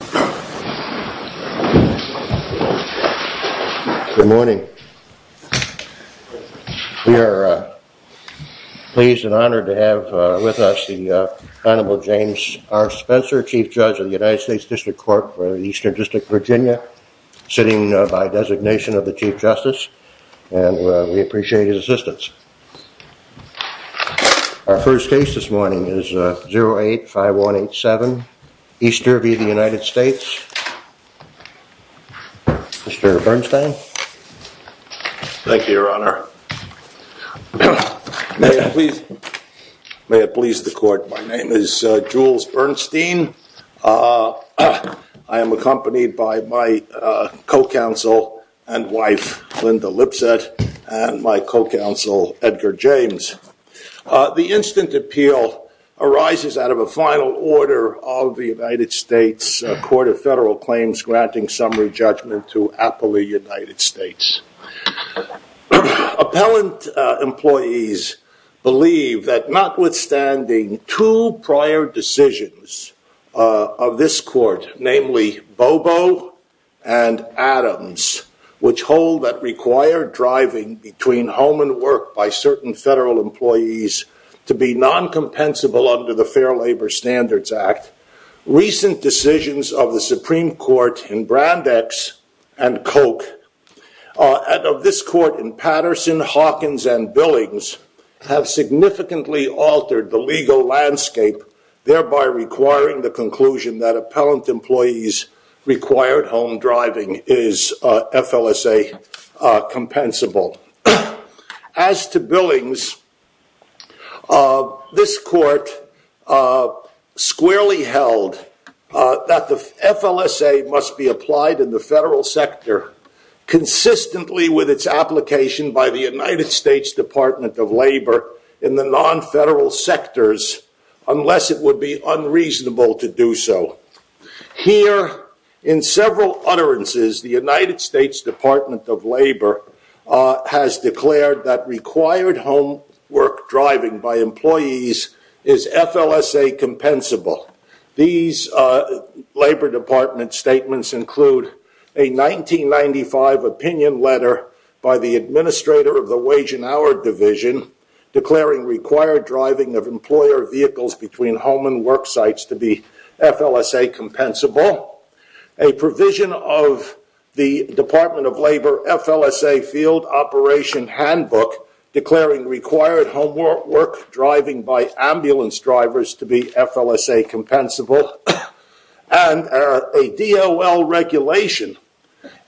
District Court for the Eastern District, Virginia, sitting by designation of the Chief Justice, and we appreciate his assistance. Our first case this morning is 08-5187, Easter v. the United States District Court. Mr. Bernstein. Thank you, Your Honor. May it please the Court, my name is Jules Bernstein. I am accompanied by my co-counsel and wife, Linda Lipset, and my co-counsel, Edgar James. The instant appeal arises out of a final order of the United States Court of Federal Claims granting summary judgment to appellee United States. Appellant employees believe that notwithstanding two prior decisions of this court, namely Bobo and Adams, which hold that required driving between home and work by certain federal employees to be non-compensable under the Fair Labor Standards Act, recent decisions of the Supreme Court in Brandeis and Koch, and of this court in Patterson, Hawkins, and Billings, have significantly altered the legal landscape, thereby requiring the conclusion that appellant employees' required home driving is FLSA-compensable. As to Billings, this court squarely held that the FLSA must be applied in the federal sector consistently with its application by the United States Department of Labor in the non-federal sectors unless it would be unreasonable to do so. Here, in several utterances, the United States Department of Labor has declared that required home work driving by employees is FLSA-compensable. These Labor Department statements include a 1995 opinion letter by the administrator of the Wage and Hour Division declaring required driving of employer vehicles between home and work sites to be FLSA-compensable, a provision of the Department of Labor FLSA Field Operation Handbook declaring required home work driving by ambulance drivers to be FLSA-compensable, and a DOL regulation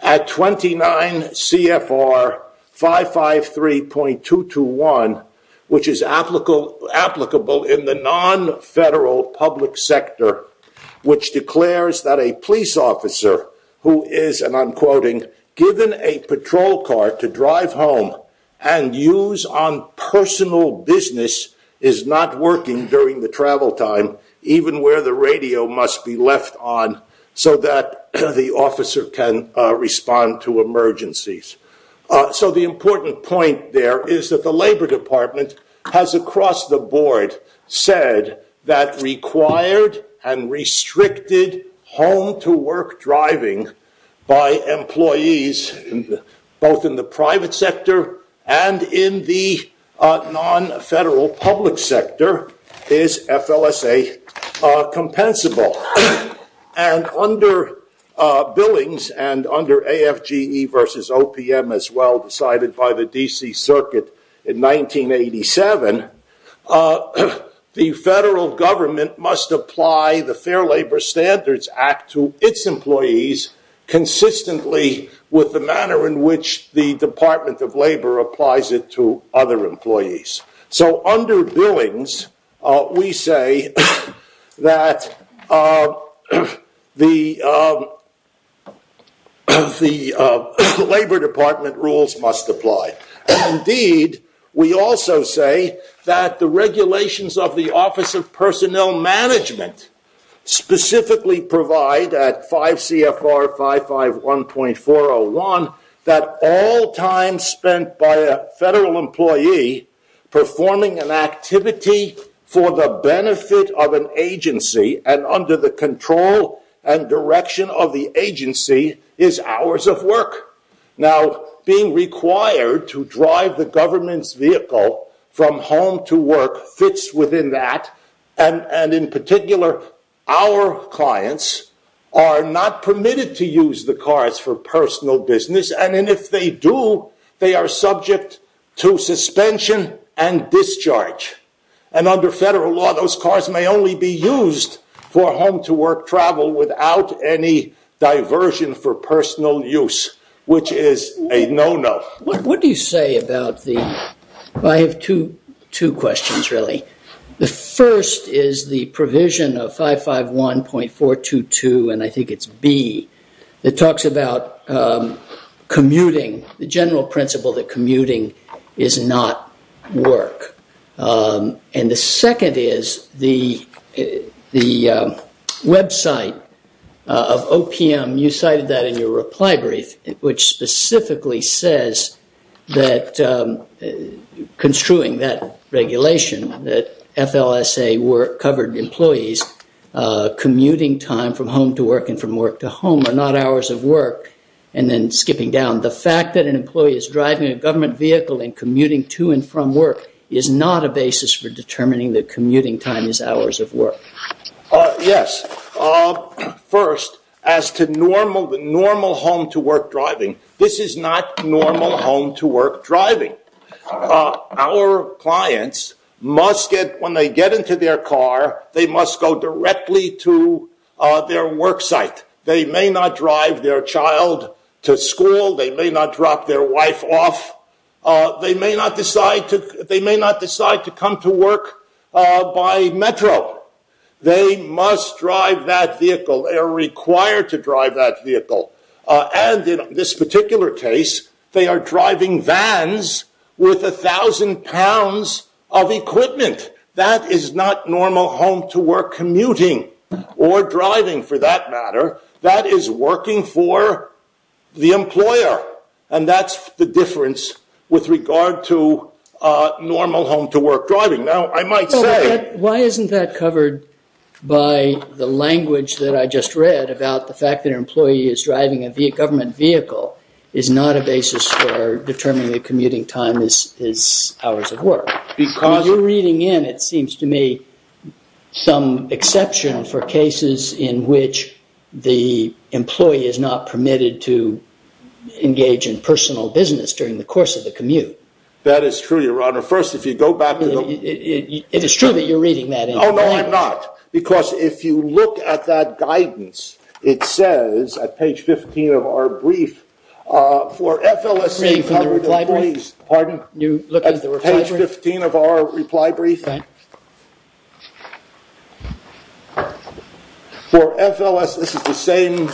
at 29 CFR 553.221, which is applicable in the non-federal public sector, which declares that a police officer who is, and I'm quoting, given a patrol car to drive home and use on personal business is not working during the travel time, even where the radio must be left on so that the officer can respond to emergencies. So the important point there is that the Labor Department has, across the board, said that required and restricted home-to-work driving by employees, both in the private sector and in the non-federal public sector, is FLSA-compensable. And under billings, and under AFGE versus OPM as well decided by the D.C. Circuit in 1987, the federal government must apply the Fair Labor Standards Act to its employees consistently with the manner in which the Department of Labor applies it to other employees. So under billings, we say that the Labor Department rules must apply. Indeed, we also say that the regulations of the Office of Personnel Management specifically provide at 5 CFR 551.401 that all time spent by a federal employee performing an activity for the benefit of an agency and under the control and direction of the agency is hours of work. Now, being required to drive the government's vehicle from home to work fits within that, and in particular, our clients are not permitted to use the cars for personal business. And if they do, they are subject to suspension and discharge. And under federal law, those cars may only be used for home-to-work travel without any diversion for personal use, which is a no-no. What do you say about the, I have two questions really. The first is the provision of 551.422, and I think it's B, that talks about commuting, the general principle that commuting is not work. And the second is the website of OPM, you cited that in your reply brief, which specifically says that construing that regulation, that FLSA work covered employees commuting time from home to work and from work to home are not hours of work, and then skipping down. The fact that an employee is driving a government vehicle and commuting to and from work is not a basis for determining that commuting time is hours of work. Yes. First, as to normal home-to-work driving, this is not normal home-to-work driving. Our clients must get, when they get into their car, they must go directly to their work site. They may not drive their child to school. They may not drop their wife off. They may not decide to come to work by metro. They must drive that vehicle. They are required to drive that vehicle. And in this particular case, they are driving vans with 1,000 pounds of equipment. That is not normal home-to-work commuting, or driving for that matter. That is working for the employer. And that's the difference with regard to normal home-to-work driving. Now, I might say— Why isn't that covered by the language that I just read about the fact that an employee is driving a government vehicle is not a basis for determining that commuting time is hours of work? When you're reading in, it seems to me, some exception for cases in which the employee is not permitted to engage in personal business during the course of the commute. That is true, Your Honor. First, if you go back to the— It is true that you're reading that in. Oh, no, I'm not. Because if you look at that guidance, it says, at page 15 of our brief, for FLS— Reading from the reply brief? Pardon? You're looking at the reply brief? At page 15 of our reply brief? Right. For FLS, this is the same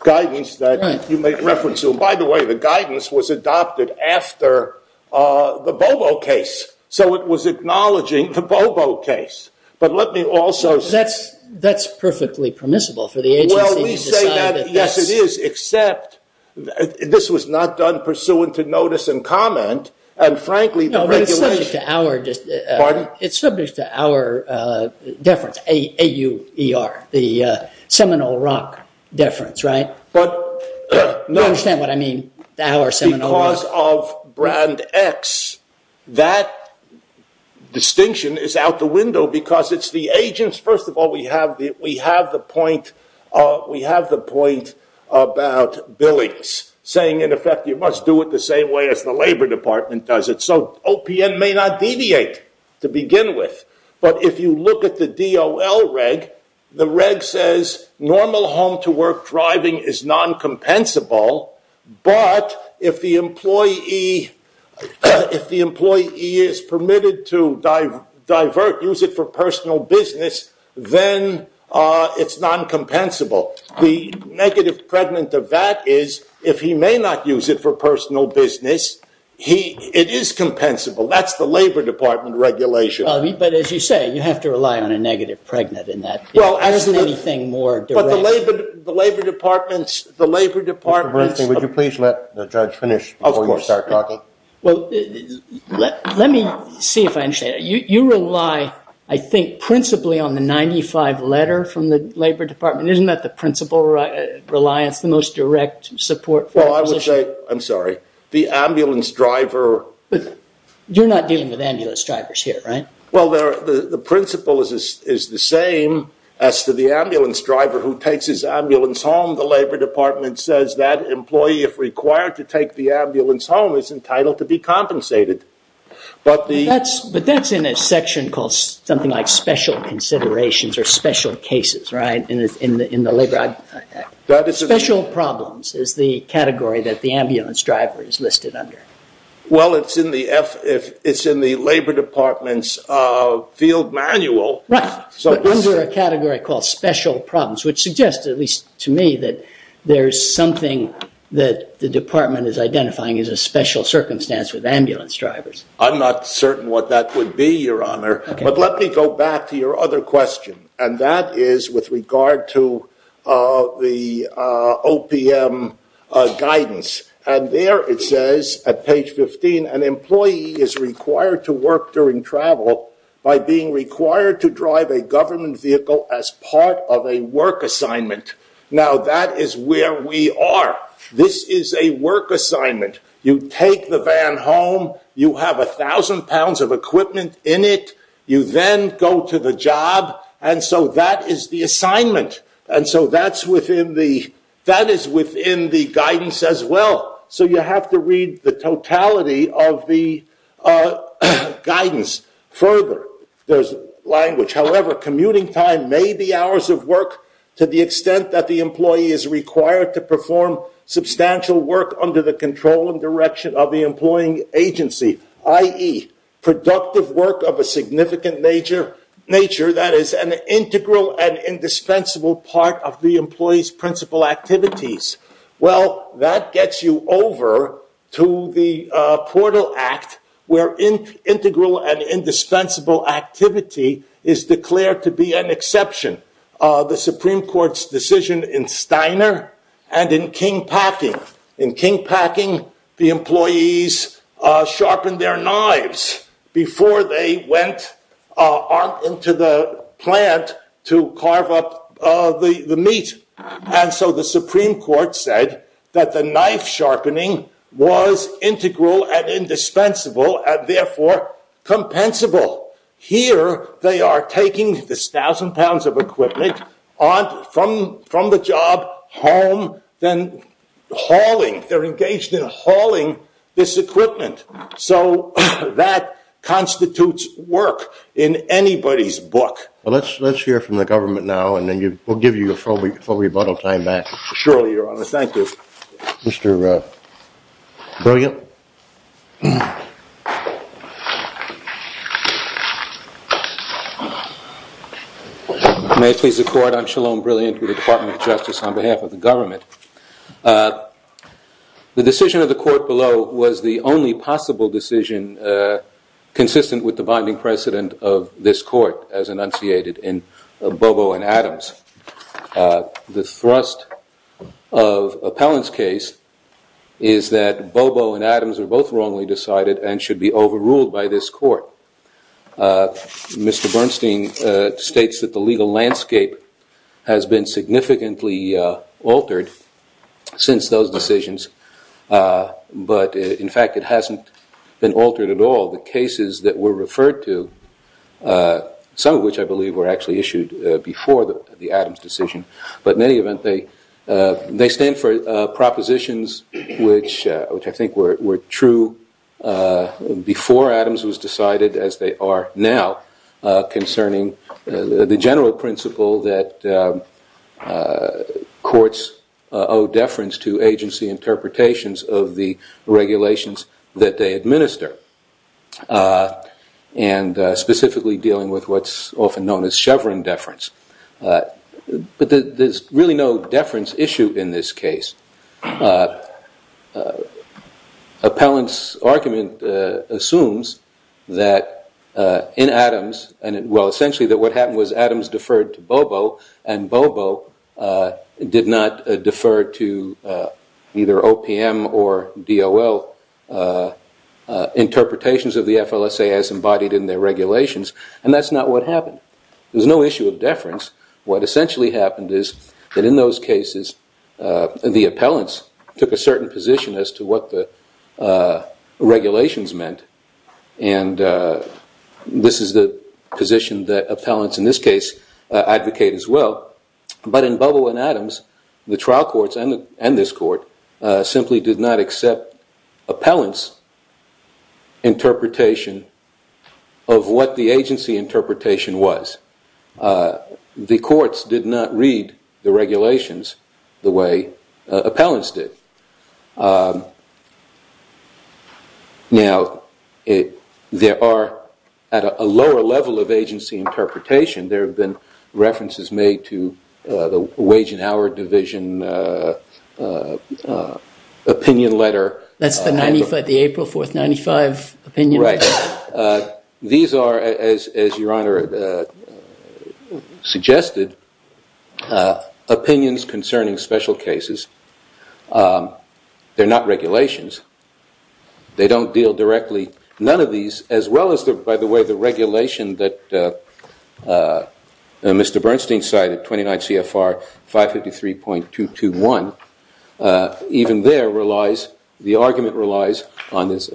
guidance that you made reference to. By the way, the guidance was adopted after the Bobo case. So it was acknowledging the Bobo case. But let me also— That's perfectly permissible for the agency to decide that this— No, but it's subject to our— Pardon? It's subject to our deference, A-U-E-R, the Seminole Rock deference, right? But— You understand what I mean, our Seminole Rock? Because of brand X, that distinction is out the window because it's the agents— So OPM may not deviate to begin with. But if you look at the DOL reg, the reg says normal home-to-work driving is non-compensable. But if the employee is permitted to divert, use it for personal business, then it's non-compensable. The negative pregnant of that is if he may not use it for personal business, it is compensable. That's the Labor Department regulation. But as you say, you have to rely on a negative pregnant in that. There isn't anything more— But the Labor Department's— Mr. Bernstein, would you please let the judge finish before you start talking? Of course. Well, let me see if I understand. You rely, I think, principally on the 95 letter from the Labor Department. Isn't that the principle reliance, the most direct support for a position? Well, I would say—I'm sorry. The ambulance driver— You're not dealing with ambulance drivers here, right? Well, the principle is the same as to the ambulance driver who takes his ambulance home. The Labor Department says that employee, if required to take the ambulance home, is entitled to be compensated. But that's in a section called something like special considerations or special cases, right? Special problems is the category that the ambulance driver is listed under. Well, it's in the Labor Department's field manual. Right. So those are a category called special problems, which suggests, at least to me, that there is something that the department is identifying as a special circumstance with ambulance drivers. I'm not certain what that would be, Your Honor. But let me go back to your other question. And that is with regard to the OPM guidance. And there it says, at page 15, an employee is required to work during travel by being required to drive a government vehicle as part of a work assignment. Now, that is where we are. This is a work assignment. You take the van home. You have 1,000 pounds of equipment in it. You then go to the job. And so that is the assignment. And so that is within the guidance as well. So you have to read the totality of the guidance further. There's language. However, commuting time may be hours of work to the extent that the employee is required to perform substantial work under the control and direction of the employing agency, i.e., productive work of a significant nature that is an integral and indispensable part of the employee's principal activities. Well, that gets you over to the Portal Act, where integral and indispensable activity is declared to be an exception. The Supreme Court's decision in Steiner and in King Packing. In King Packing, the employees sharpened their knives before they went into the plant to carve up the meat. And so the Supreme Court said that the knife sharpening was integral and indispensable and, therefore, compensable. Here, they are taking this 1,000 pounds of equipment from the job home, then hauling. They're engaged in hauling this equipment. So that constitutes work in anybody's book. Well, let's hear from the government now, and then we'll give you a full rebuttal time back. Surely, Your Honor. Thank you. Mr. Brilliant. May it please the Court, I'm Shalom Brilliant with the Department of Justice on behalf of the government. The decision of the court below was the only possible decision consistent with the binding precedent of this court as enunciated in Bobo and Adams. The thrust of Appellant's case is that Bobo and Adams are both wrongly decided and should be overruled by this court. Mr. Bernstein states that the legal landscape has been significantly altered since those decisions, but, in fact, it hasn't been altered at all. The cases that were referred to, some of which I believe were actually issued before the Adams decision, but, in any event, they stand for propositions which I think were true before Adams was decided, as they are now, concerning the general principle that courts owe deference to agency interpretations of the regulations that they administer, and specifically dealing with what's often known as Chevron deference. But there's really no deference issue in this case. Appellant's argument assumes that in Adams, well, essentially that what happened was Adams deferred to Bobo, and Bobo did not defer to either OPM or DOL interpretations of the FLSA as embodied in their regulations, and that's not what happened. There's no issue of deference. What essentially happened is that in those cases the appellants took a certain position as to what the regulations meant, and this is the position that appellants in this case advocate as well, but in Bobo and Adams, the trial courts and this court simply did not accept appellants' interpretation of what the agency interpretation was. The courts did not read the regulations the way appellants did. Now, there are, at a lower level of agency interpretation, there have been references made to the Wage and Hour Division opinion letter. That's the April 4, 1995 opinion letter? Right. These are, as Your Honor suggested, opinions concerning special cases. They're not regulations. They don't deal directly. None of these, as well as, by the way, the regulation that Mr. Bernstein cited, 29 CFR 553.221, even there relies, the argument relies on this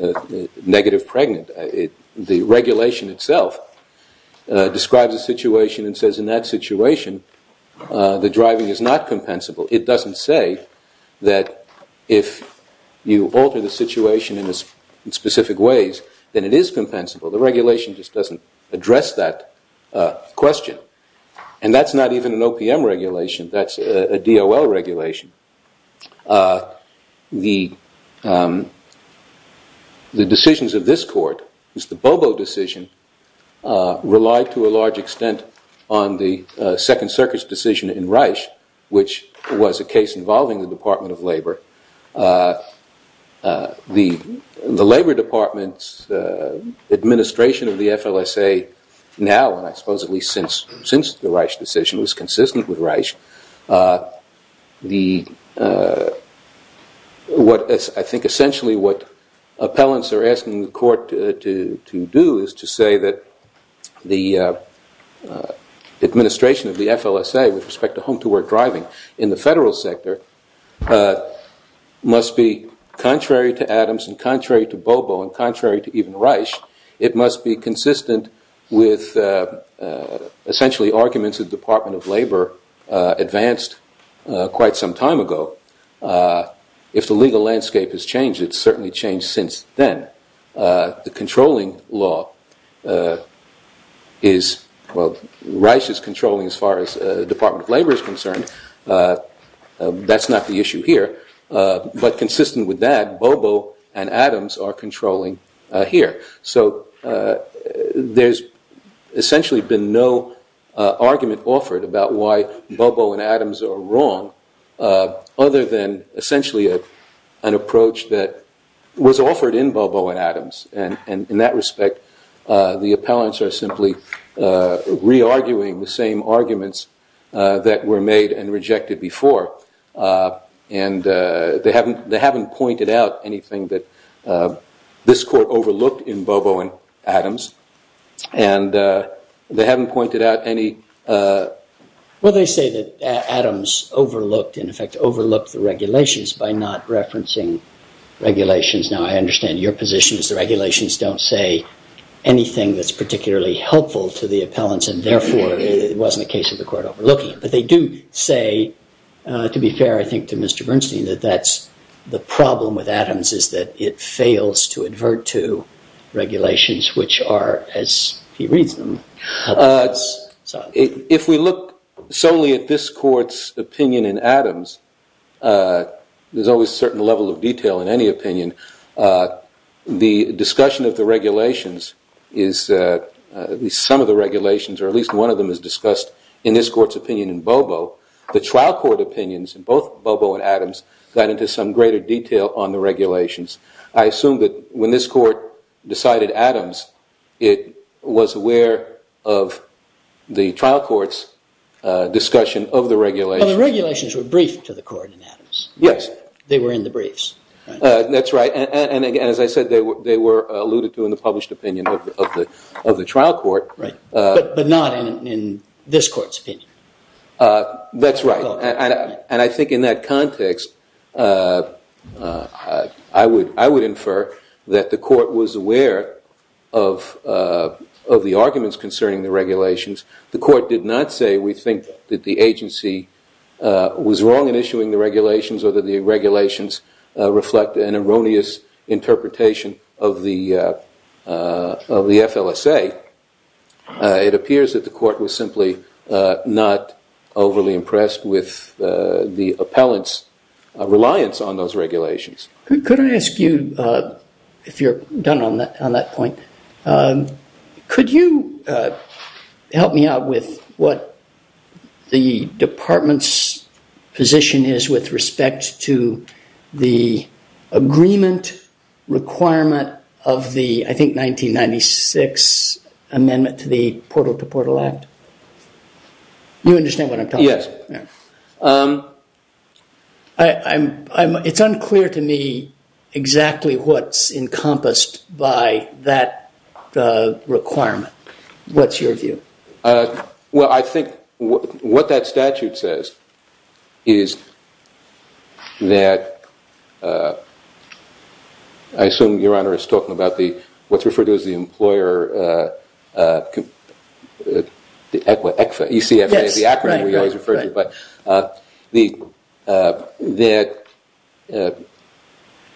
negative pregnant. The regulation itself describes a situation and says in that situation the driving is not compensable. It doesn't say that if you alter the situation in specific ways, then it is compensable. The regulation just doesn't address that question, and that's not even an OPM regulation. That's a DOL regulation. The decisions of this court, Mr. Bobo decision, relied to a large extent on the Second Circuit's decision in Reich, which was a case involving the Department of Labor. The Labor Department's administration of the FLSA now, and I suppose at least since the Reich decision, was consistent with Reich. I think essentially what appellants are asking the court to do is to say that the administration of the FLSA with respect to home-to-work driving in the federal sector must be contrary to Adams and contrary to Bobo and contrary to even Reich. It must be consistent with essentially arguments of the Department of Labor advanced quite some time ago. If the legal landscape has changed, it's certainly changed since then. The controlling law is, well, Reich is controlling as far as the Department of Labor is concerned. That's not the issue here. But consistent with that, Bobo and Adams are controlling here. So there's essentially been no argument offered about why Bobo and Adams are wrong, other than essentially an approach that was offered in Bobo and Adams. And in that respect, the appellants are simply re-arguing the same arguments that were made and rejected before. And they haven't pointed out anything that this court overlooked in Bobo and Adams. And they haven't pointed out any. Well, they say that Adams overlooked, in effect, overlooked the regulations by not referencing regulations. Now, I understand your position is the regulations don't say anything that's particularly helpful to the appellants, and therefore it wasn't a case of the court overlooking it. But they do say, to be fair, I think, to Mr. Bernstein, that that's the problem with Adams, is that it fails to advert to regulations, which are, as he reads them. If we look solely at this court's opinion in Adams, there's always a certain level of detail in any opinion. The discussion of the regulations is, at least some of the regulations, or at least one of them is discussed in this court's opinion in Bobo. The trial court opinions in both Bobo and Adams got into some greater detail on the regulations. I assume that when this court decided Adams, it was aware of the trial court's discussion of the regulations. Well, the regulations were briefed to the court in Adams. Yes. They were in the briefs. That's right. And as I said, they were alluded to in the published opinion of the trial court. Right. But not in this court's opinion. That's right. And I think in that context, I would infer that the court was aware of the arguments concerning the regulations. The court did not say we think that the agency was wrong in issuing the regulations or that the regulations reflect an erroneous interpretation of the FLSA. It appears that the court was simply not overly impressed with the appellant's reliance on those regulations. Could I ask you, if you're done on that point, could you help me out with what the department's position is with respect to the agreement requirement of the, I think, 1996 amendment to the Portal to Portal Act? You understand what I'm talking about? Yes. It's unclear to me exactly what's encompassed by that requirement. What's your view? Well, I think what that statute says is that, I assume Your Honor is talking about what's referred to as the employer, the ECFA, E-C-F-A, the acronym we always refer to, but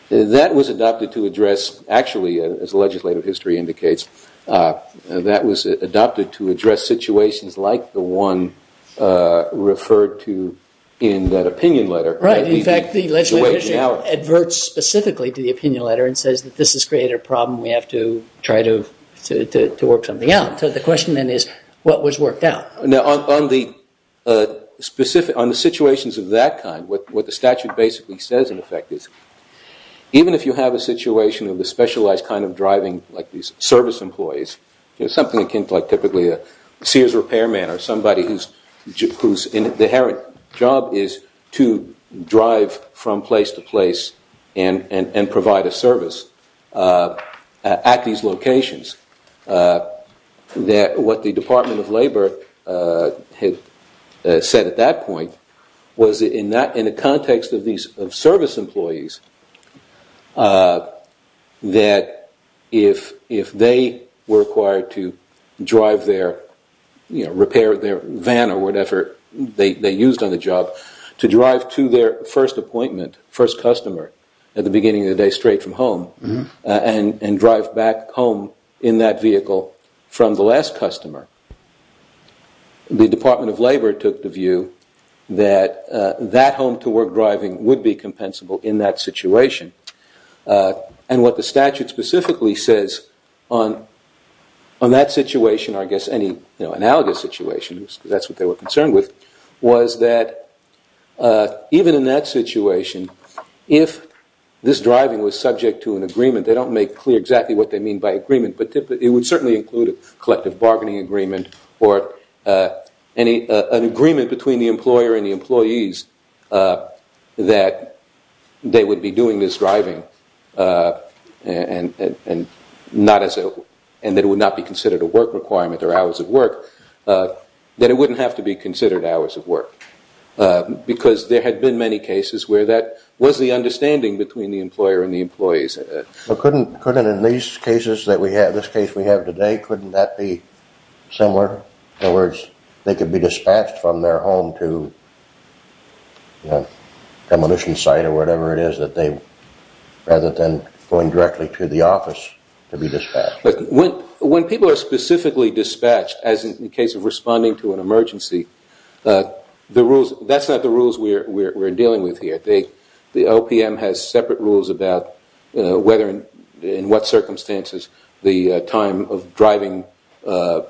that was adopted to address, actually, as legislative history indicates, that was adopted to address situations like the one referred to in that opinion letter. Right. In fact, the legislative history adverts specifically to the opinion letter and says that this has created a problem. We have to try to work something out. So the question, then, is what was worked out? Now, on the specific, on the situations of that kind, what the statute basically says, in effect, is even if you have a situation of the specialized kind of driving, like these service employees, something akin to typically a seer's repairman or somebody whose inherent job is to drive from place to place and provide a service at these locations, what the Department of Labor had said at that point was that in the context of these service employees, that if they were required to drive their, repair their van or whatever they used on the job, to drive to their first appointment, first customer, at the beginning of the day straight from home, and drive back home in that vehicle from the last customer, the Department of Labor took the view that that home-to-work driving would be compensable in that situation. And what the statute specifically says on that situation, or I guess any analogous situation, because that's what they were concerned with, was that even in that situation, if this driving was subject to an agreement, they don't make clear exactly what they mean by agreement, but it would certainly include a collective bargaining agreement or an agreement between the employer and the employees that they would be doing this driving and that it would not be considered a work requirement or hours of work, that it wouldn't have to be considered hours of work. Because there had been many cases where that was the understanding between the employer and the employees. But couldn't in these cases that we have, this case we have today, couldn't that be similar? In other words, they could be dispatched from their home to a demolition site or whatever it is rather than going directly to the office to be dispatched. When people are specifically dispatched, as in the case of responding to an emergency, that's not the rules we're dealing with here. The OPM has separate rules about in what circumstances the time of driving to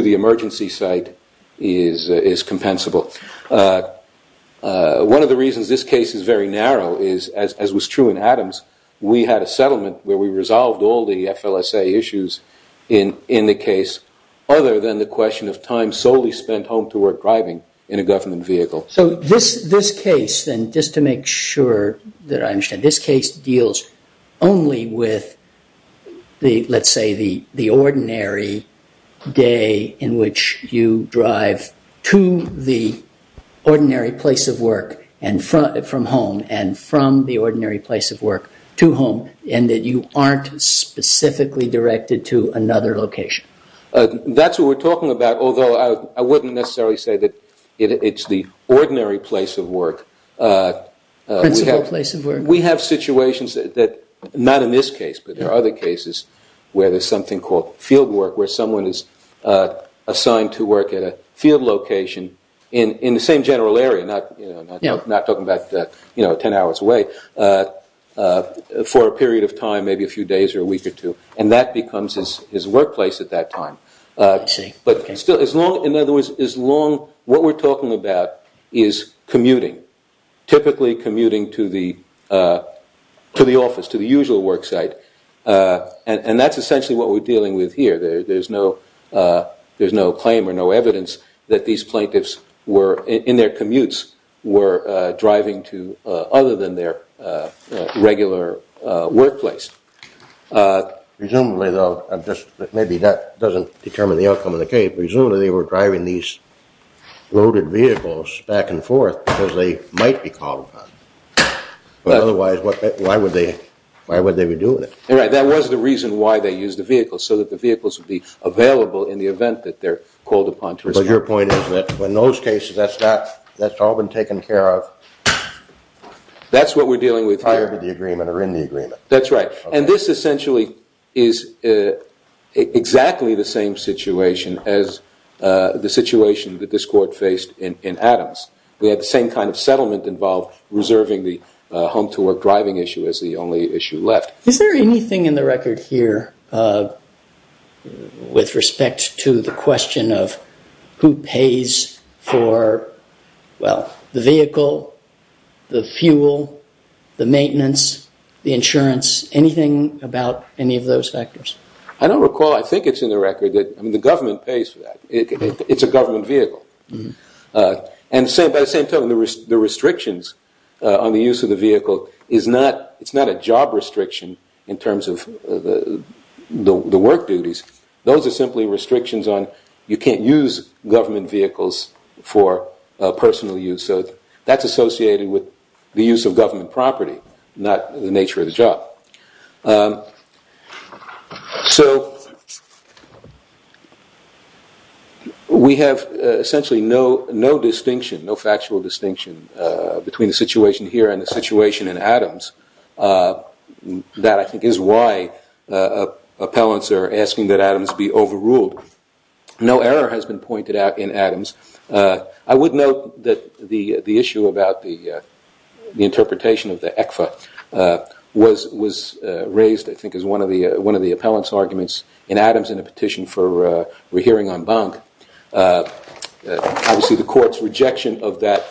the emergency site is compensable. One of the reasons this case is very narrow is, as was true in Adams, we had a settlement where we resolved all the FLSA issues in the case other than the question of time solely spent home to work driving in a government vehicle. So this case then, just to make sure that I understand, this case deals only with, let's say, the ordinary day in which you drive to the ordinary place of work from home and from the ordinary place of work to home and that you aren't specifically directed to another location. That's what we're talking about, although I wouldn't necessarily say that it's the ordinary place of work. Principal place of work. We have situations that, not in this case, but there are other cases where there's something called field work where someone is assigned to work at a field location in the same general area, not talking about 10 hours away, for a period of time, maybe a few days or a week or two, and that becomes his workplace at that time. I see. But still, in other words, what we're talking about is commuting, typically commuting to the office, to the usual work site, and that's essentially what we're dealing with here. There's no claim or no evidence that these plaintiffs in their commutes were driving to other than their regular workplace. Presumably, though, maybe that doesn't determine the outcome of the case, presumably they were driving these loaded vehicles back and forth because they might be called upon. But otherwise, why would they be doing it? Right, that was the reason why they used the vehicles, so that the vehicles would be available in the event that they're called upon to respond. But your point is that in those cases, that's all been taken care of prior to the agreement or in the agreement? That's right. And this essentially is exactly the same situation as the situation that this court faced in Adams. We had the same kind of settlement involved, reserving the home-to-work driving issue as the only issue left. Is there anything in the record here with respect to the question of who pays for the vehicle, the fuel, the maintenance, the insurance, anything about any of those factors? I don't recall. I think it's in the record that the government pays for that. It's a government vehicle. And by the same token, the restrictions on the use of the vehicle is not a job restriction in terms of the work duties. Those are simply restrictions on you can't use government vehicles for personal use. So that's associated with the use of government property, not the nature of the job. So we have essentially no distinction, no factual distinction between the situation here and the situation in Adams. That I think is why appellants are asking that Adams be overruled. No error has been pointed out in Adams. I would note that the issue about the interpretation of the ECFA was raised, I think, as one of the appellant's arguments in Adams in a petition for a hearing on bunk. Obviously, the court's rejection of that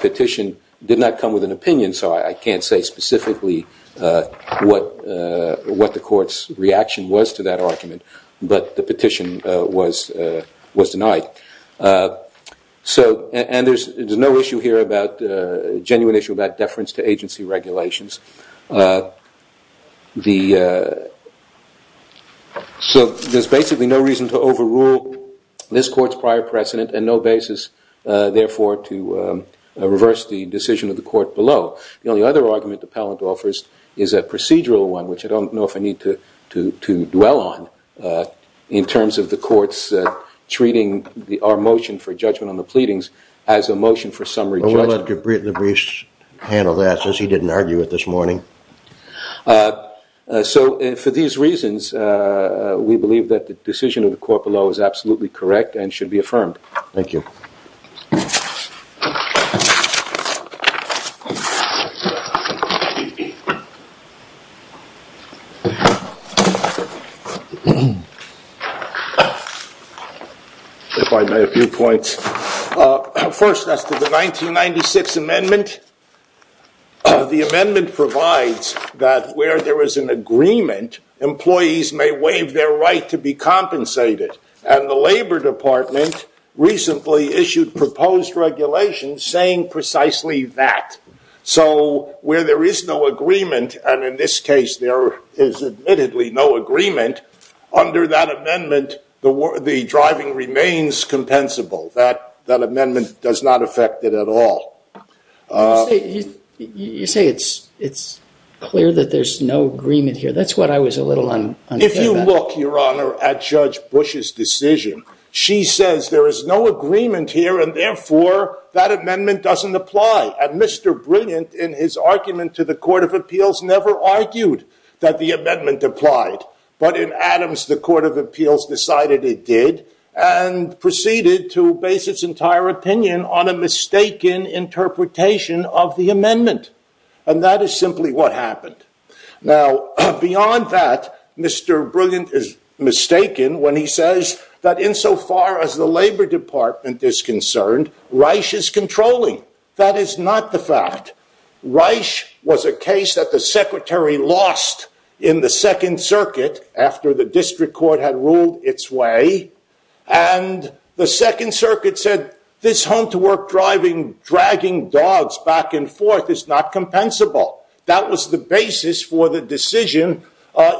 petition did not come with an opinion, so I can't say specifically what the court's reaction was to that argument, but the petition was denied. And there's no issue here, a genuine issue, about deference to agency regulations. So there's basically no reason to overrule this court's prior precedent and no basis, therefore, to reverse the decision of the court below. The only other argument the appellant offers is a procedural one, which I don't know if I need to dwell on, in terms of the court's treating our motion for judgment on the pleadings as a motion for summary judgment. Well, we'll let the briefs handle that, since he didn't argue it this morning. So for these reasons, we believe that the decision of the court below is absolutely correct and should be affirmed. Thank you. If I may, a few points. First, as to the 1996 amendment, the amendment provides that where there is an agreement, employees may waive their right to be compensated, and the Labor Department recently issued proposed regulations saying precisely that. So where there is no agreement, and in this case, there is admittedly no agreement, under that amendment, the driving remains compensable. That amendment does not affect it at all. You say it's clear that there's no agreement here. That's what I was a little unclear about. If you look, Your Honor, at Judge Bush's decision, she says there is no agreement here, and therefore, that amendment doesn't apply. And Mr. Brilliant, in his argument to the Court of Appeals, never argued that the amendment applied. But in Adams, the Court of Appeals decided it did, and proceeded to base its entire opinion on a mistaken interpretation of the amendment. And that is simply what happened. Now, beyond that, Mr. Brilliant is mistaken when he says that insofar as the Labor Department is concerned, Reich is controlling. That is not the fact. Reich was a case that the Secretary lost in the Second Circuit after the District Court had ruled its way, and the Second Circuit said this home-to-work driving, dragging dogs back and forth is not compensable. That was the basis for the decision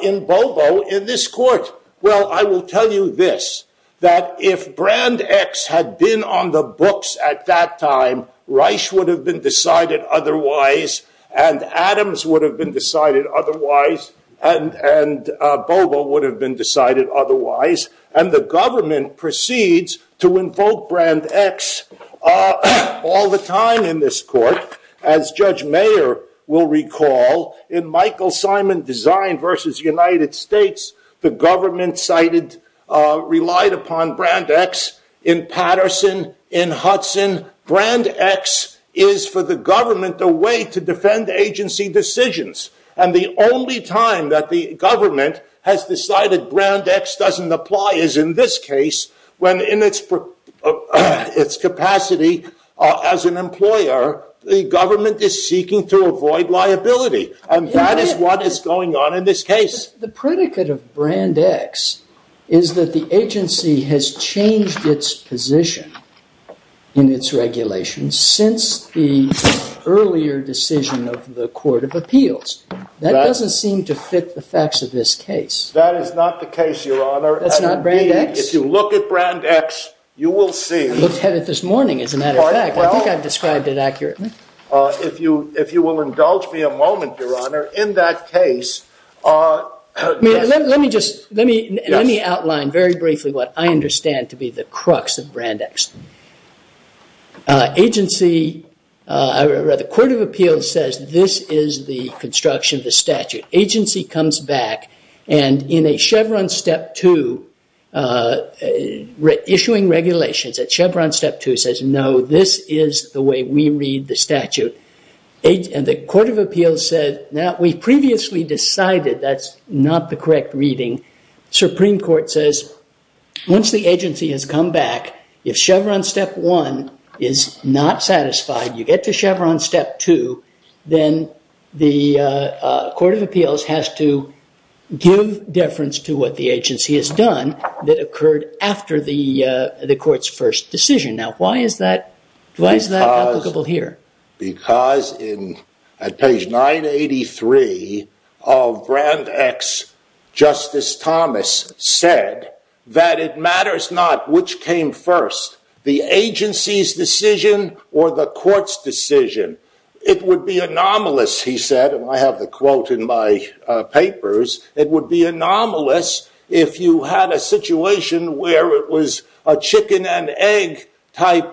in Bobo in this court. Well, I will tell you this, that if Brand X had been on the books at that time, Reich would have been decided otherwise, and Adams would have been decided otherwise, and Bobo would have been decided otherwise, and the government proceeds to invoke Brand X all the time in this court, as Judge Mayer will recall, in Michael Simon Design v. United States, the government relied upon Brand X in Patterson, in Hudson. Brand X is, for the government, a way to defend agency decisions, and the only time that the government has decided Brand X doesn't apply is in this case, when in its capacity as an employer, the government is seeking to avoid liability, and that is what is going on in this case. The predicate of Brand X is that the agency has changed its position in its regulations since the earlier decision of the Court of Appeals. That doesn't seem to fit the facts of this case. That is not the case, Your Honor. That's not Brand X? If you look at Brand X, you will see. I looked at it this morning, as a matter of fact. I think I've described it accurately. If you will indulge me a moment, Your Honor, in that case. Let me just, let me outline very briefly what I understand to be the crux of Brand X. Agency, the Court of Appeals says this is the construction of the statute. Agency comes back, and in a Chevron Step 2, issuing regulations at Chevron Step 2, says, no, this is the way we read the statute. The Court of Appeals said, no, we previously decided that's not the correct reading. Supreme Court says, once the agency has come back, if Chevron Step 1 is not satisfied, you get to Chevron Step 2, then the Court of Appeals has to give deference to what the agency has done that occurred after the Court's first decision. Now, why is that applicable here? Because at page 983 of Brand X, Justice Thomas said that it matters not which came first, the agency's decision or the court's decision. It would be anomalous, he said, and I have the quote in my papers, it would be anomalous if you had a situation where it was a chicken and egg type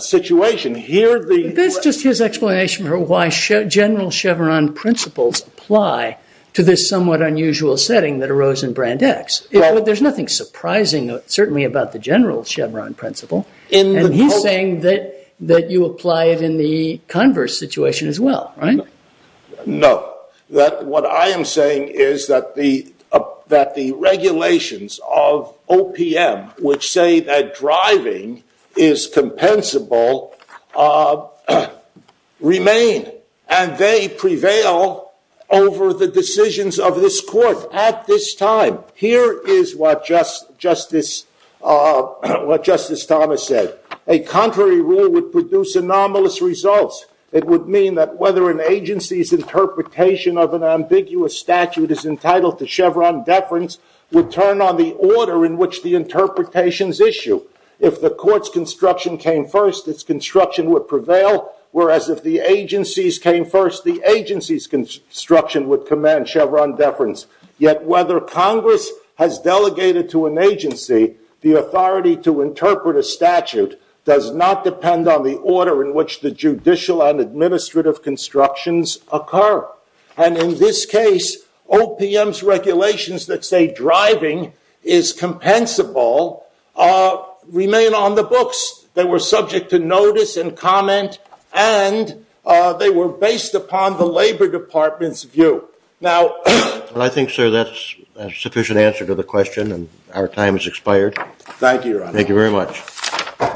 situation. That's just his explanation for why general Chevron principles apply to this somewhat unusual setting that arose in Brand X. There's nothing surprising, certainly, about the general Chevron principle, and he's saying that you apply it in the converse situation as well, right? No. What I am saying is that the regulations of OPM, which say that driving is compensable, remain, and they prevail over the decisions of this Court at this time. Here is what Justice Thomas said. A contrary rule would produce anomalous results. It would mean that whether an agency's interpretation of an ambiguous statute is entitled to Chevron deference would turn on the order in which the interpretations issue. If the Court's construction came first, its construction would prevail, whereas if the agency's came first, the agency's construction would command Chevron deference. Yet whether Congress has delegated to an agency the authority to interpret a statute does not depend on the order in which the judicial and administrative constructions occur. And in this case, OPM's regulations that say driving is compensable remain on the books. They were subject to notice and comment, and they were based upon the Labor Department's view. Well, I think, sir, that's a sufficient answer to the question, and our time has expired. Thank you, Your Honor. Thank you very much.